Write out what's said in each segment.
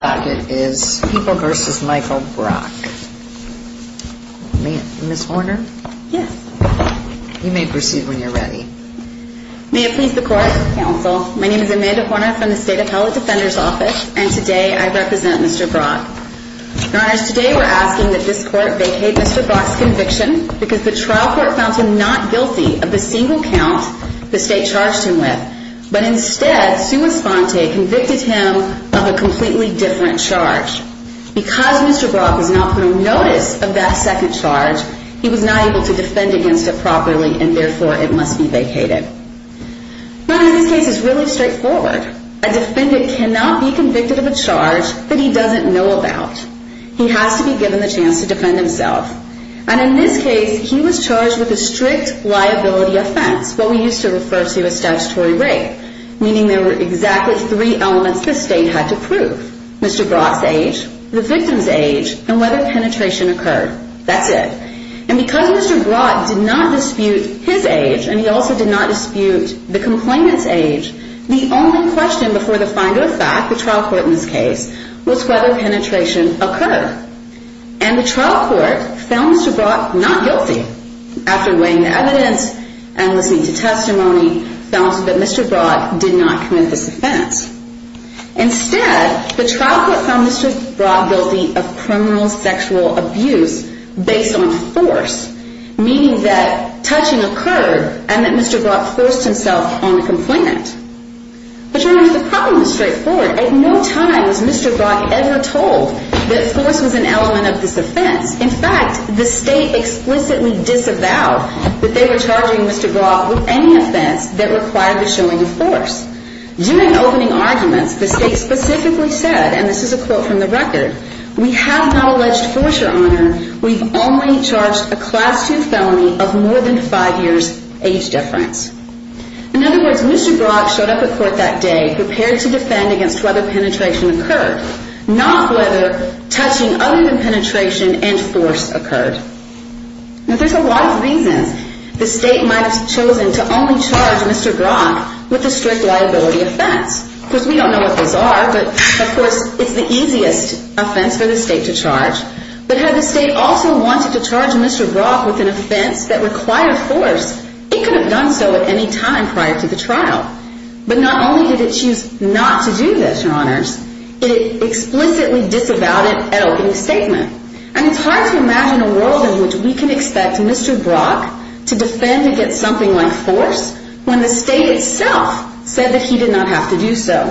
May it please the Court, Counsel. My name is Amanda Horner from the State Appellate Defender's Office, and today I represent Mr. Brock. Your Honors, today we're asking that this Court vacate Mr. Brock's conviction because the trial court found him not guilty of the single count the State charged him with, but instead Sua Sponte convicted him of a completely different charge. Because Mr. Brock was not put on notice of that second charge, he was not able to defend against it properly, and therefore it must be vacated. Now in this case it's really straightforward. A defendant cannot be convicted of a charge that he doesn't know about. He has to be given the chance to defend himself. And in this case, he was charged with a strict liability offense, what we used to refer to as statutory rape, meaning there were exactly three elements the State had to prove. Mr. Brock's age, the victim's age, and whether penetration occurred. That's it. And because Mr. Brock did not dispute his age, and he also did not dispute the complainant's age, the only question before the finder of fact, the trial court in this case, was whether penetration occurred. And the trial court found Mr. Brock not guilty. After weighing the evidence and listening to testimony, found that Mr. Brock did not commit this offense. Instead, the trial court found Mr. Brock guilty of criminal sexual abuse based on force, meaning that touching occurred and that Mr. Brock forced himself on the complainant. Which means the problem is straightforward. At no time was Mr. Brock ever told that force was an element of this offense. In fact, the State explicitly disavowed that they were charging Mr. Brock with any offense that required the showing of force. During opening arguments, the State specifically said, and this is a quote from the record, we have not alleged force, Your Honor. We've only charged a Class II felony of more than five years age difference. In other words, Mr. Brock showed up at court that day prepared to defend against whether penetration occurred, not whether touching other than penetration and force occurred. Now, there's a lot of reasons the State might have chosen to only charge Mr. Brock with a strict liability offense. Of course, we don't know what those are, but of course, it's the easiest offense for the State to charge. But had the State also wanted to charge Mr. Brock with an offense that required force, it could have done so at any time prior to the trial. But not only did it choose not to do this, Your Honors, it explicitly disavowed it at opening statement. And it's hard to imagine a world in which we can expect Mr. Brock to defend against something like force when the State itself said that he did not have to do so.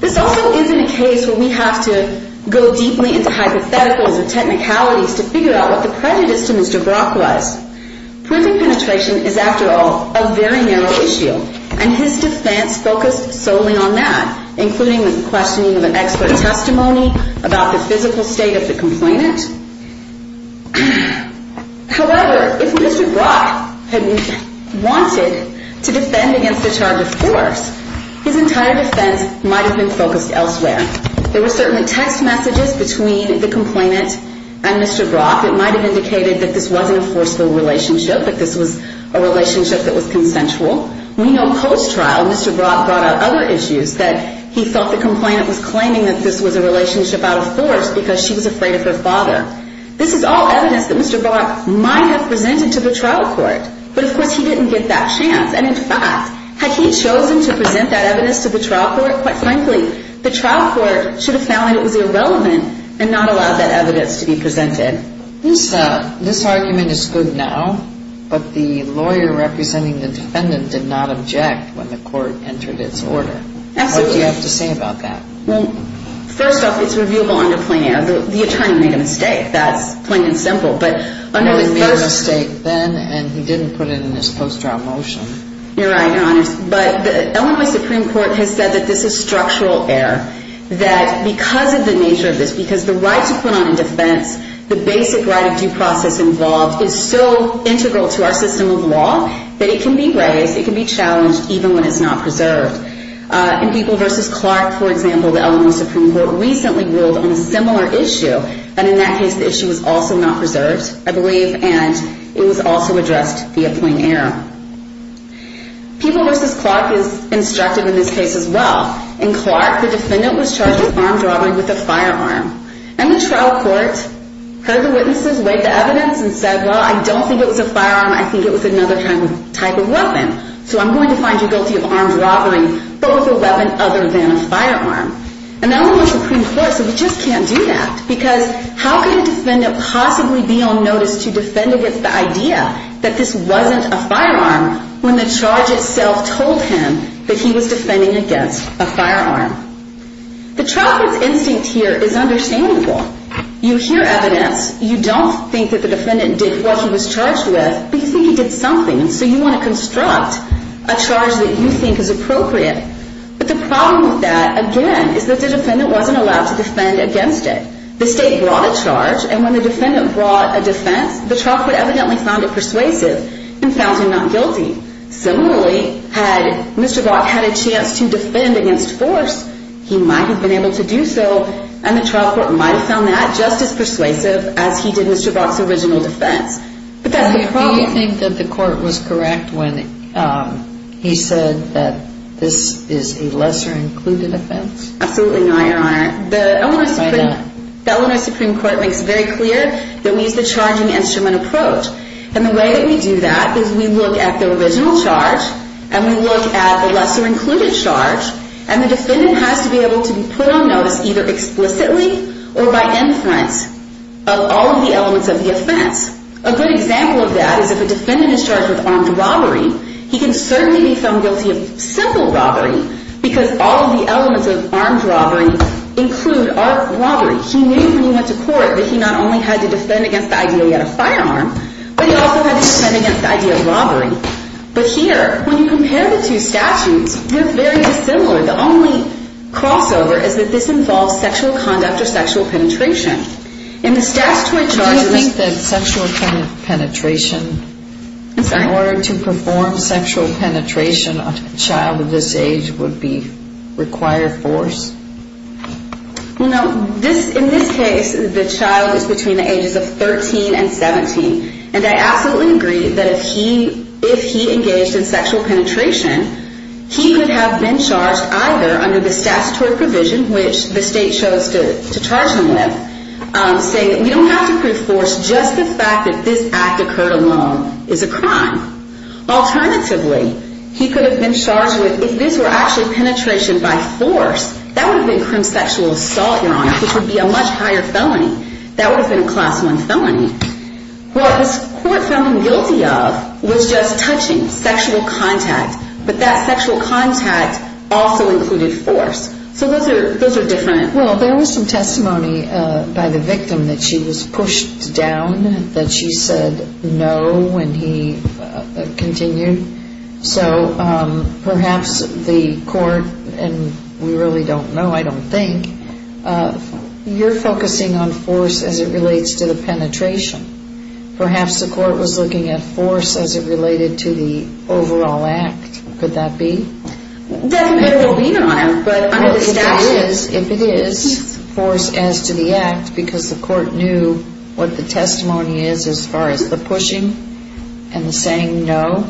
This also isn't a case where we have to go deeply into hypotheticals and technicalities to figure out what the prejudice to Mr. Brock was. Prison penetration is, after all, a very narrow issue, and his defense focused solely on that, including the questioning of an expert testimony about the physical state of the complainant. However, if Mr. Brock had wanted to defend against a charge of force, his entire defense might have been focused elsewhere. There were certainly text messages between the complainant and Mr. Brock that might have indicated that this wasn't a forceful relationship, that this was a relationship that was consensual. We know post-trial, Mr. Brock brought up other issues, that he felt the complainant was claiming that this was a relationship out of force because she was afraid of her father. This is all evidence that Mr. Brock might have presented to the trial court. But of course, he didn't get that chance. And in fact, had he chosen to present that evidence to the trial court, quite frankly, the trial court should have found that it was irrelevant and not allowed that evidence to be presented. This argument is good now, but the lawyer representing the defendant did not object when the court entered its order. What do you have to say about that? First off, it's reviewable under plain air. The attorney made a mistake, that's plain and simple. He made a mistake then, and he didn't put it in his post-trial motion. You're right, Your Honors. But the Illinois Supreme Court has said that this is structural error, that because of the nature of this, because the right to put on a defense, the basic right of due process involved is so integral to our system of law that it can be raised, it can be challenged, even when it's not preserved. In People v. Clark, for example, the Illinois Supreme Court recently ruled on a similar issue, and in that case, the issue was also not preserved, I believe, and it was also addressed via plain air. People v. Clark is instructive in this case as well. In Clark, the defendant was charged with armed robbery with a firearm. And the trial court heard the witnesses, weighed the evidence, and said, well, I don't think it was a firearm. I think it was another type of weapon. So I'm going to find you guilty of armed robbery, but with a weapon other than a firearm. And the Illinois Supreme Court said, we just can't do that, because how can a defendant possibly be on notice to defend against the idea that this wasn't a firearm when the charge itself told him that he was defending against a firearm? The trial court's instinct here is understandable. You hear evidence. You don't think that the defendant did what he was charged with, but you think he did something. And so you want to construct a charge that you think is appropriate. But the problem with that, again, is that the defendant wasn't allowed to defend against it. The state brought a charge, and when the defendant brought a defense, the trial court evidently found it persuasive and found him not guilty. Similarly, had Mr. Brock had a chance to defend against force, he might have been able to do so, and the trial court might have found that just as persuasive as he did Mr. Brock's original defense. But that's the problem. Do you think that the court was correct when he said that this is a lesser-included offense? Absolutely not, Your Honor. Why not? The Illinois Supreme Court makes it very clear that we use the charging instrument approach. And the way that we do that is we look at the original charge, and we look at the lesser-included charge, and the defendant has to be able to be put on notice either explicitly or by inference of all of the elements of the offense. A good example of that is if a defendant is charged with armed robbery, he can certainly be found guilty of simple robbery, because all of the elements of armed robbery include armed robbery. He knew when he went to court that he not only had to defend against the idea he had a firearm, but he also had to defend against the idea of robbery. But here, when you compare the two statutes, they're very dissimilar. The only crossover is that this involves sexual conduct or sexual penetration. In the statutory charges... Do you think that sexual penetration... I'm sorry. ...in order to perform sexual penetration on a child of this age would be required force? Well, no. In this case, the child is between the ages of 13 and 17. And I absolutely agree that if he engaged in sexual penetration, he could have been charged either under the provision, which the state chose to charge him with, saying that we don't have to prove force, just the fact that this act occurred alone is a crime. Alternatively, he could have been charged with, if this were actually penetration by force, that would have been criminal sexual assault, Your Honor, which would be a much higher felony. That would have been a Class I felony. What this court found him guilty of was just touching, sexual contact. But that sexual contact also included force. So those are different. Well, there was some testimony by the victim that she was pushed down, that she said no when he continued. So perhaps the court, and we really don't know, I don't think, you're focusing on force as it relates to the penetration. Perhaps the court was looking at force as it related to the overall act. Could that be? That may well be, Your Honor. But under the statute... Well, if it is, if it is force as to the act, because the court knew what the testimony is as far as the pushing and the saying no,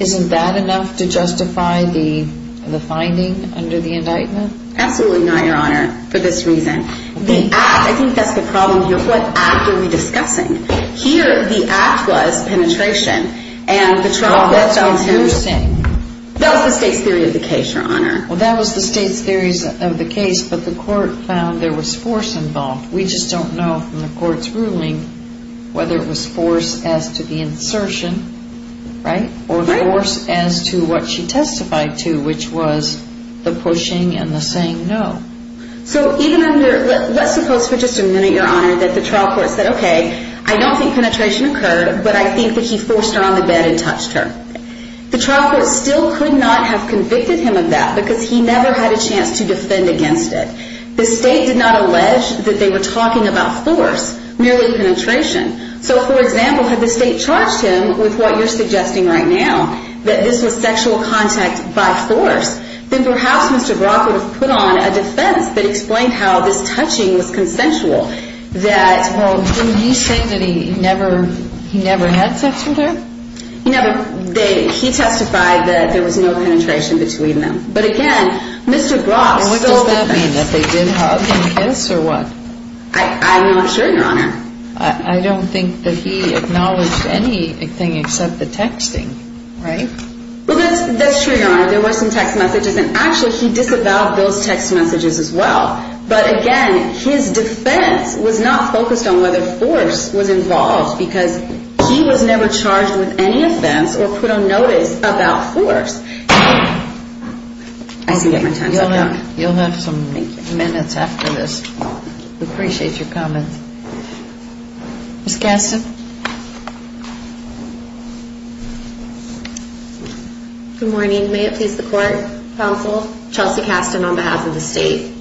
isn't that enough to justify the finding under the indictment? Absolutely not, Your Honor, for this reason. The act, I think that's the problem here. What act are we discussing? Here, the act was penetration. Well, that's what you're saying. That was the state's theory of the case, Your Honor. Well, that was the state's theory of the case, but the court found there was force involved. We just don't know from the court's ruling whether it was force as to the insertion, right, or force as to what she testified to, which was the pushing and the saying no. So even under, let's suppose for just a minute, Your Honor, that the trial court said, okay, I don't think penetration occurred, but I think that he forced her on the bed and touched her. The trial court still could not have convicted him of that, because he never had a chance to defend against it. The state did not allege that they were talking about force, merely penetration. So, for example, had the state charged him with what you're suggesting right now, that this was sexual contact by force, then perhaps Mr. Brock would have put on a defense that explained how this touching was consensual. Well, didn't he say that he never had sex with her? He never did. He testified that there was no penetration between them. But again, Mr. Brock stole the case. What does that mean, that they did hug and kiss or what? I'm not sure, Your Honor. I don't think that he acknowledged anything except the texting, right? Well, that's true, Your Honor. There were some text messages, and actually he disavowed those text messages as well. But again, his defense was not focused on whether force was involved, because he was never charged with any offense or put on notice about force. You'll have some minutes after this. We appreciate your comments. Ms. Gaston? Good morning. May it please the Court, Counsel, Chelsea Gaston on behalf of the state.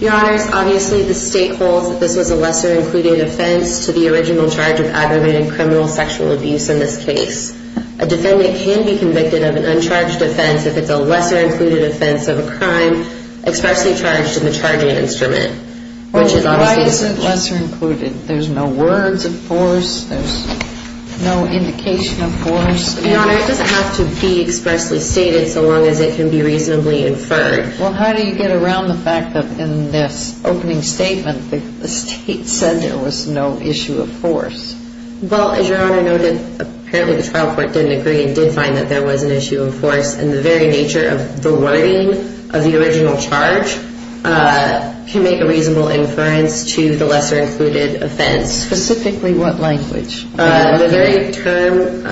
Your Honors, obviously the state holds that this was a lesser-included offense to the original charge of aggravated criminal sexual abuse in this case. A defendant can be convicted of an uncharged offense if it's a lesser-included offense of a crime expressly charged in the charging instrument, which is obviously the case. Well, why is it lesser-included? There's no words of force. There's no indication of force. Your Honor, it doesn't have to be expressly stated so long as it can be reasonably inferred. Well, how do you get around the fact that in this opening statement, the state said there was no issue of force? Well, as Your Honor noted, apparently the trial court didn't agree and did find that there was an issue of force, and the very nature of the wording of the original charge can make a reasonable inference to the lesser-included offense. Specifically what language? The very term,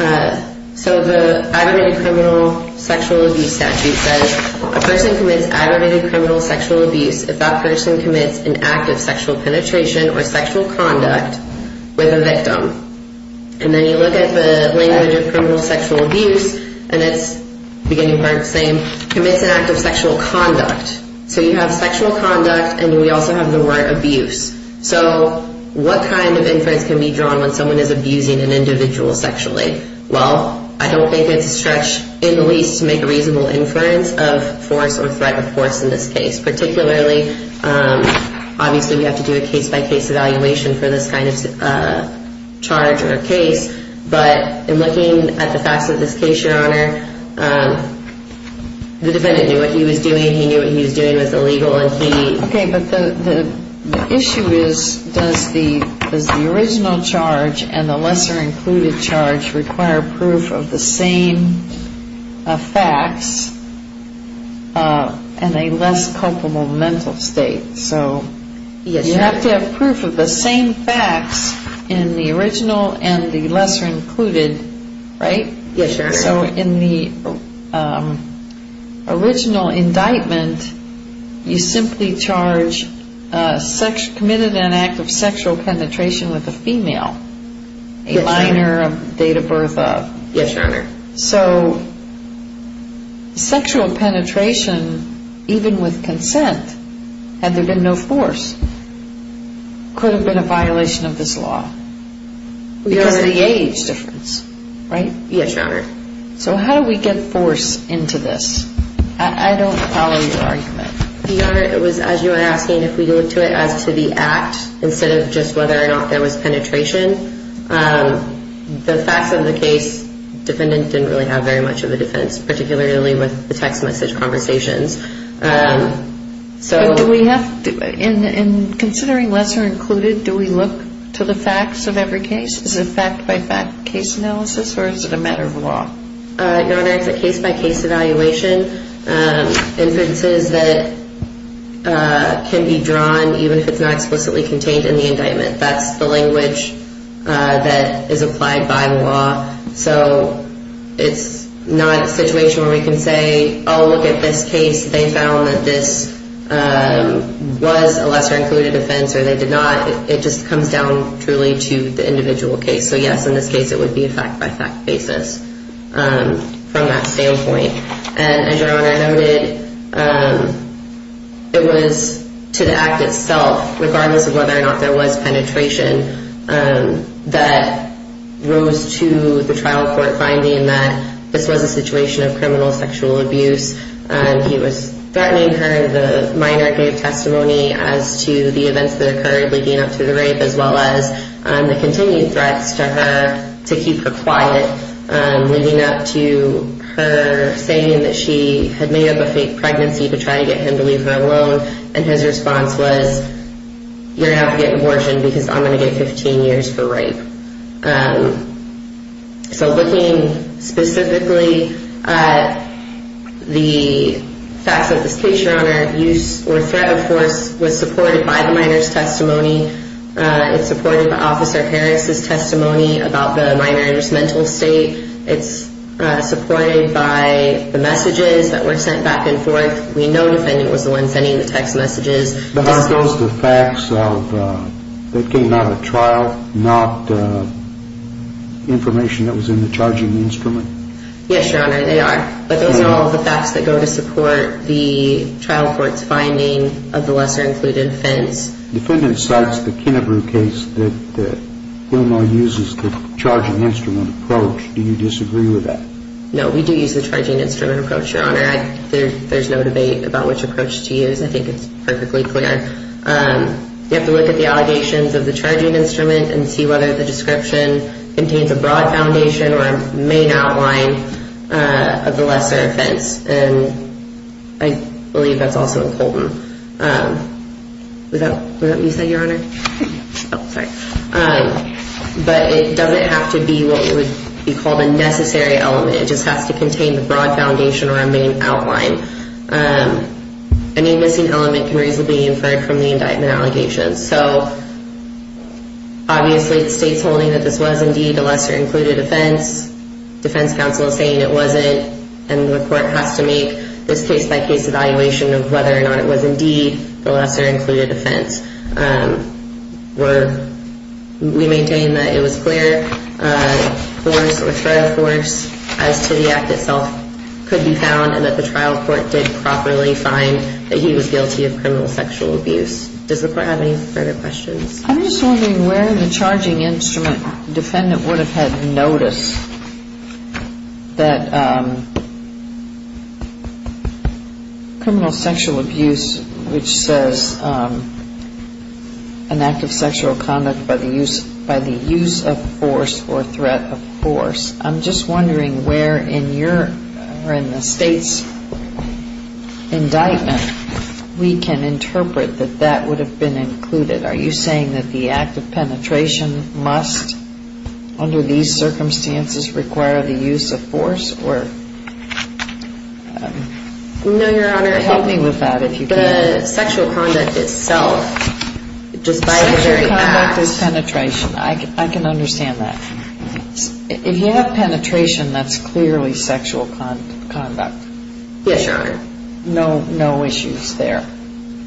so the aggravated criminal sexual abuse statute says a person commits aggravated criminal sexual abuse if that person commits an act of sexual penetration or sexual conduct with a victim. And then you look at the language of criminal sexual abuse, and it's beginning part of the same, commits an act of sexual conduct. So you have sexual conduct, and we also have the word abuse. So what kind of inference can be drawn when someone is abusing an individual sexually? Well, I don't think it's a stretch in the least to make a reasonable inference of force or threat of force in this case, particularly obviously we have to do a case-by-case evaluation for this kind of charge or case. But in looking at the facts of this case, Your Honor, the defendant knew what he was doing. He knew what he was doing was illegal. Okay, but the issue is, does the original charge and the lesser-included charge require proof of the same facts in a less culpable mental state? So you have to have proof of the same facts in the original and the lesser-included, right? Yes, Your Honor. So in the original indictment, you simply charge committed an act of sexual penetration with a female, a minor, a date of birth of. Yes, Your Honor. So sexual penetration, even with consent, had there been no force, could have been a violation of this law because of the age difference, right? Yes, Your Honor. So how do we get force into this? I don't follow your argument. Your Honor, it was, as you were asking, if we look to it as to the act instead of just whether or not there was penetration. The facts of the case, defendant didn't really have very much of a defense, particularly with the text message conversations. But do we have, in considering lesser-included, do we look to the facts of every case? Is it fact-by-fact case analysis, or is it a matter of law? Your Honor, it's a case-by-case evaluation, inferences that can be drawn even if it's not explicitly contained in the indictment. That's the language that is applied by law. So it's not a situation where we can say, oh, look at this case. They found that this was a lesser-included offense or they did not. It just comes down truly to the individual case. So, yes, in this case it would be a fact-by-fact basis from that standpoint. And as Your Honor noted, it was to the act itself, regardless of whether or not there was penetration, that rose to the trial court finding that this was a situation of criminal sexual abuse. He was threatening her. The minor gave testimony as to the events that occurred leading up to the rape, as well as the continued threats to her to keep her quiet, leading up to her saying that she had made up a fake pregnancy to try to get him to leave her alone. And his response was, you're going to have to get an abortion because I'm going to get 15 years for rape. So looking specifically at the facts of this case, Your Honor, abuse or threat of force was supported by the minor's testimony. It supported Officer Harris' testimony about the minor's mental state. It's supported by the messages that were sent back and forth. We know the defendant was the one sending the text messages. But are those the facts that came out of trial, not information that was in the charging instrument? Yes, Your Honor, they are. But those are all the facts that go to support the trial court's finding of the lesser-included offense. The defendant cites the Kennebrew case that Illinois uses the charging instrument approach. Do you disagree with that? No, we do use the charging instrument approach, Your Honor. There's no debate about which approach to use. I think it's perfectly clear. You have to look at the allegations of the charging instrument and see whether the description contains a broad foundation or a main outline of the lesser offense. And I believe that's also important. Was that what you said, Your Honor? Oh, sorry. But it doesn't have to be what would be called a necessary element. It just has to contain the broad foundation or a main outline. Any missing element can reasonably be inferred from the indictment allegations. So obviously the state's holding that this was indeed a lesser-included offense. Defense counsel is saying it wasn't, and the court has to make this case-by-case evaluation of whether or not it was indeed the lesser-included offense. We maintain that it was clear for us or for the force as to the act itself could be found and that the trial court did properly find that he was guilty of criminal sexual abuse. Does the court have any further questions? I'm just wondering where the charging instrument defendant would have had notice that criminal sexual abuse, which says an act of sexual conduct by the use of force or threat of force, I'm just wondering where in the state's indictment we can interpret that that would have been included. Are you saying that the act of penetration must, under these circumstances, require the use of force? No, Your Honor. Help me with that if you can. The sexual conduct itself, despite the very act. Sexual conduct is penetration. I can understand that. If you have penetration, that's clearly sexual conduct. Yes, Your Honor. No issues there,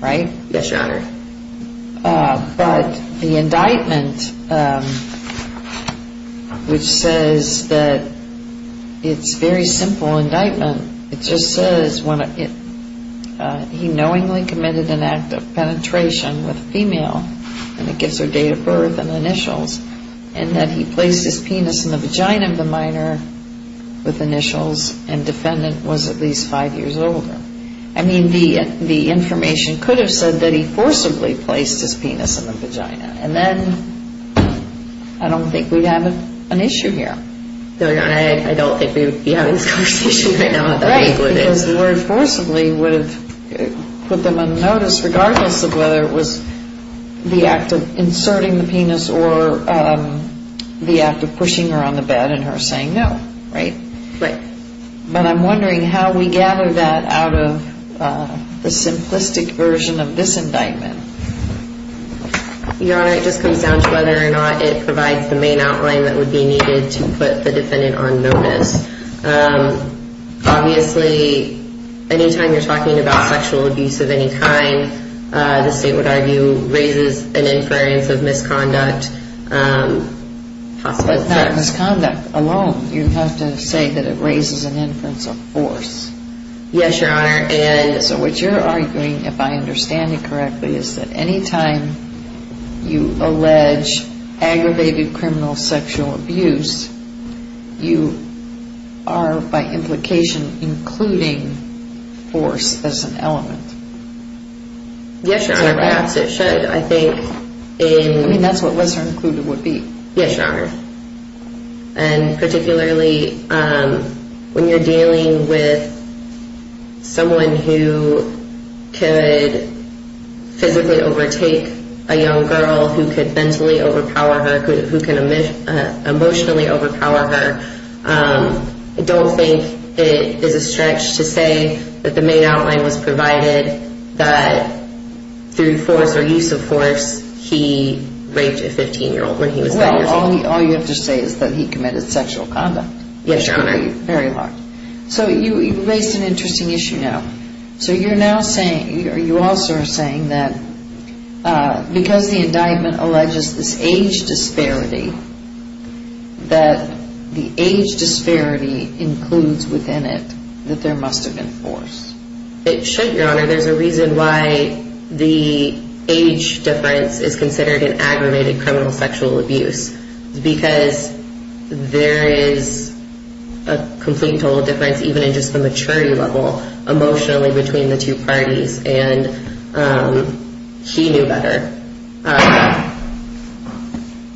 right? Yes, Your Honor. But the indictment, which says that it's a very simple indictment, it just says he knowingly committed an act of penetration with a female, and it gives her date of birth and initials, and that he placed his penis in the vagina of the minor with initials, and defendant was at least five years older. I mean, the information could have said that he forcibly placed his penis in the vagina, and then I don't think we'd have an issue here. No, Your Honor. I don't think we'd be having this conversation right now about what it is. Because the word forcibly would have put them on notice, regardless of whether it was the act of inserting the penis or the act of pushing her on the bed and her saying no, right? Right. But I'm wondering how we gather that out of the simplistic version of this indictment. Your Honor, it just comes down to whether or not it provides the main outline that would be needed to put the defendant on notice. Obviously, any time you're talking about sexual abuse of any kind, the state would argue raises an inference of misconduct. But not misconduct alone. You have to say that it raises an inference of force. Yes, Your Honor. And so what you're arguing, if I understand it correctly, is that any time you allege aggravated criminal sexual abuse, you are by implication including force as an element. Yes, Your Honor. Perhaps it should. I mean, that's what lesser included would be. Yes, Your Honor. And particularly when you're dealing with someone who could physically overtake a young girl who could mentally overpower her, who can emotionally overpower her, I don't think it is a stretch to say that the main outline was provided that through force or use of force he raped a 15-year-old when he was 10 years old. Well, all you have to say is that he committed sexual conduct. Yes, Your Honor. Very hard. So you raised an interesting issue now. So you're now saying, or you also are saying that because the indictment alleges this age disparity, that the age disparity includes within it that there must have been force. It should, Your Honor. There's a reason why the age difference is considered an aggravated criminal sexual abuse. Because there is a complete total difference even in just the maturity level emotionally between the two parties, and he knew better.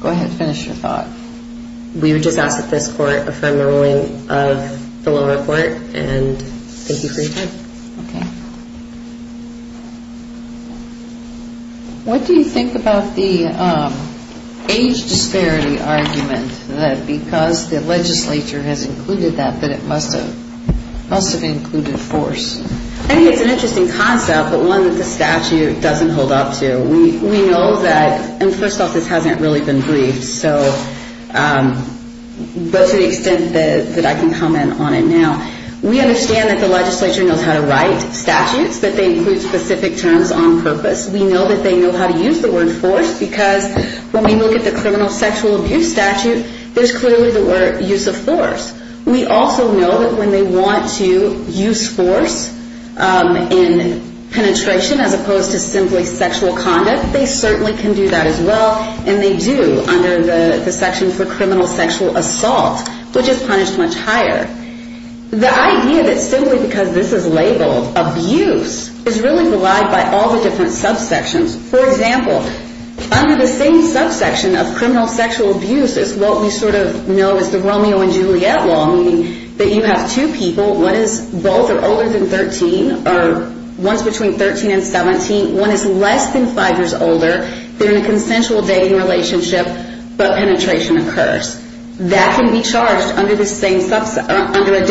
Go ahead and finish your thought. We would just ask that this Court affirm the ruling of the lower court, and thank you for your time. Okay. What do you think about the age disparity argument, that because the legislature has included that that it must have included force? I think it's an interesting concept, but one that the statute doesn't hold up to. We know that, and first off, this hasn't really been briefed, but to the extent that I can comment on it now, we understand that the legislature knows how to write statutes, that they include specific terms on purpose. We know that they know how to use the word force, because when we look at the criminal sexual abuse statute, there's clearly the word use of force. We also know that when they want to use force in penetration as opposed to simply sexual conduct, they certainly can do that as well, and they do under the section for criminal sexual assault, which is punished much higher. The idea that simply because this is labeled abuse is really relied by all the different subsections. For example, under the same subsection of criminal sexual abuse is what we sort of know as the Romeo and Juliet law, meaning that you have two people, one is both or older than 13, or one is between 13 and 17, meaning one is less than five years older, they're in a consensual dating relationship, but penetration occurs. That can be charged under a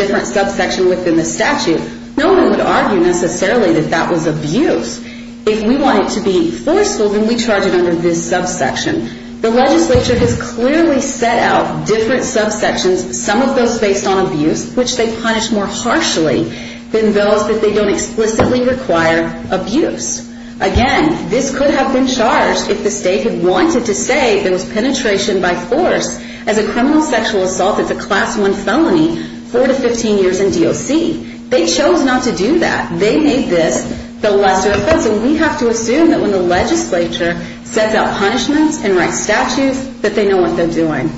different subsection within the statute. No one would argue necessarily that that was abuse. If we want it to be forceful, then we charge it under this subsection. The legislature has clearly set out different subsections, some of those based on abuse, which they punish more harshly than those that they don't explicitly require abuse. Again, this could have been charged if the state had wanted to say there was penetration by force. As a criminal sexual assault, it's a class one felony, four to 15 years in DOC. They chose not to do that. They made this the lesser offense, and we have to assume that when the legislature sets out punishments and writes statutes that they know what they're doing.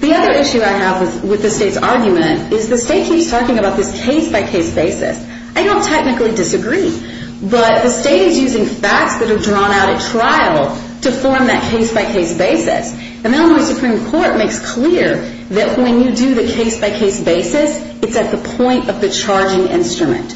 The other issue I have with the state's argument is the state keeps talking about this case-by-case basis. I don't technically disagree, but the state is using facts that are drawn out at trial to form that case-by-case basis. The Illinois Supreme Court makes clear that when you do the case-by-case basis, it's at the point of the charging instrument.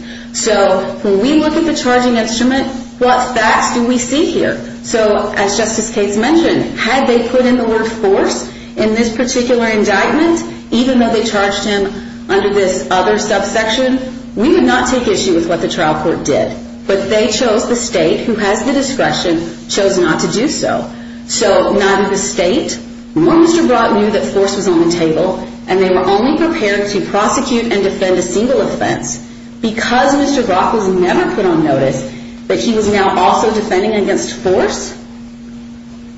When we look at the charging instrument, what facts do we see here? As Justice Cates mentioned, had they put in the word force in this particular indictment, even though they charged him under this other subsection, we would not take issue with what the trial court did. But they chose the state, who has the discretion, chose not to do so. So neither the state nor Mr. Brock knew that force was on the table, and they were only prepared to prosecute and defend a single offense. Because Mr. Brock was never put on notice that he was now also defending against force,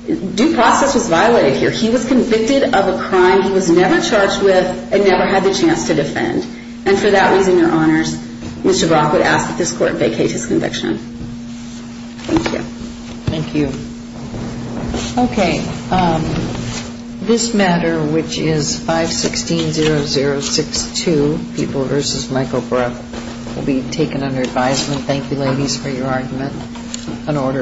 due process was violated here. He was convicted of a crime he was never charged with and never had the chance to defend. And for that reason, Your Honors, Mr. Brock would ask that this Court vacate his conviction. Thank you. Thank you. Okay. This matter, which is 516-0062, People v. Michael Brock, will be taken under advisement. Thank you, ladies, for your argument. An order.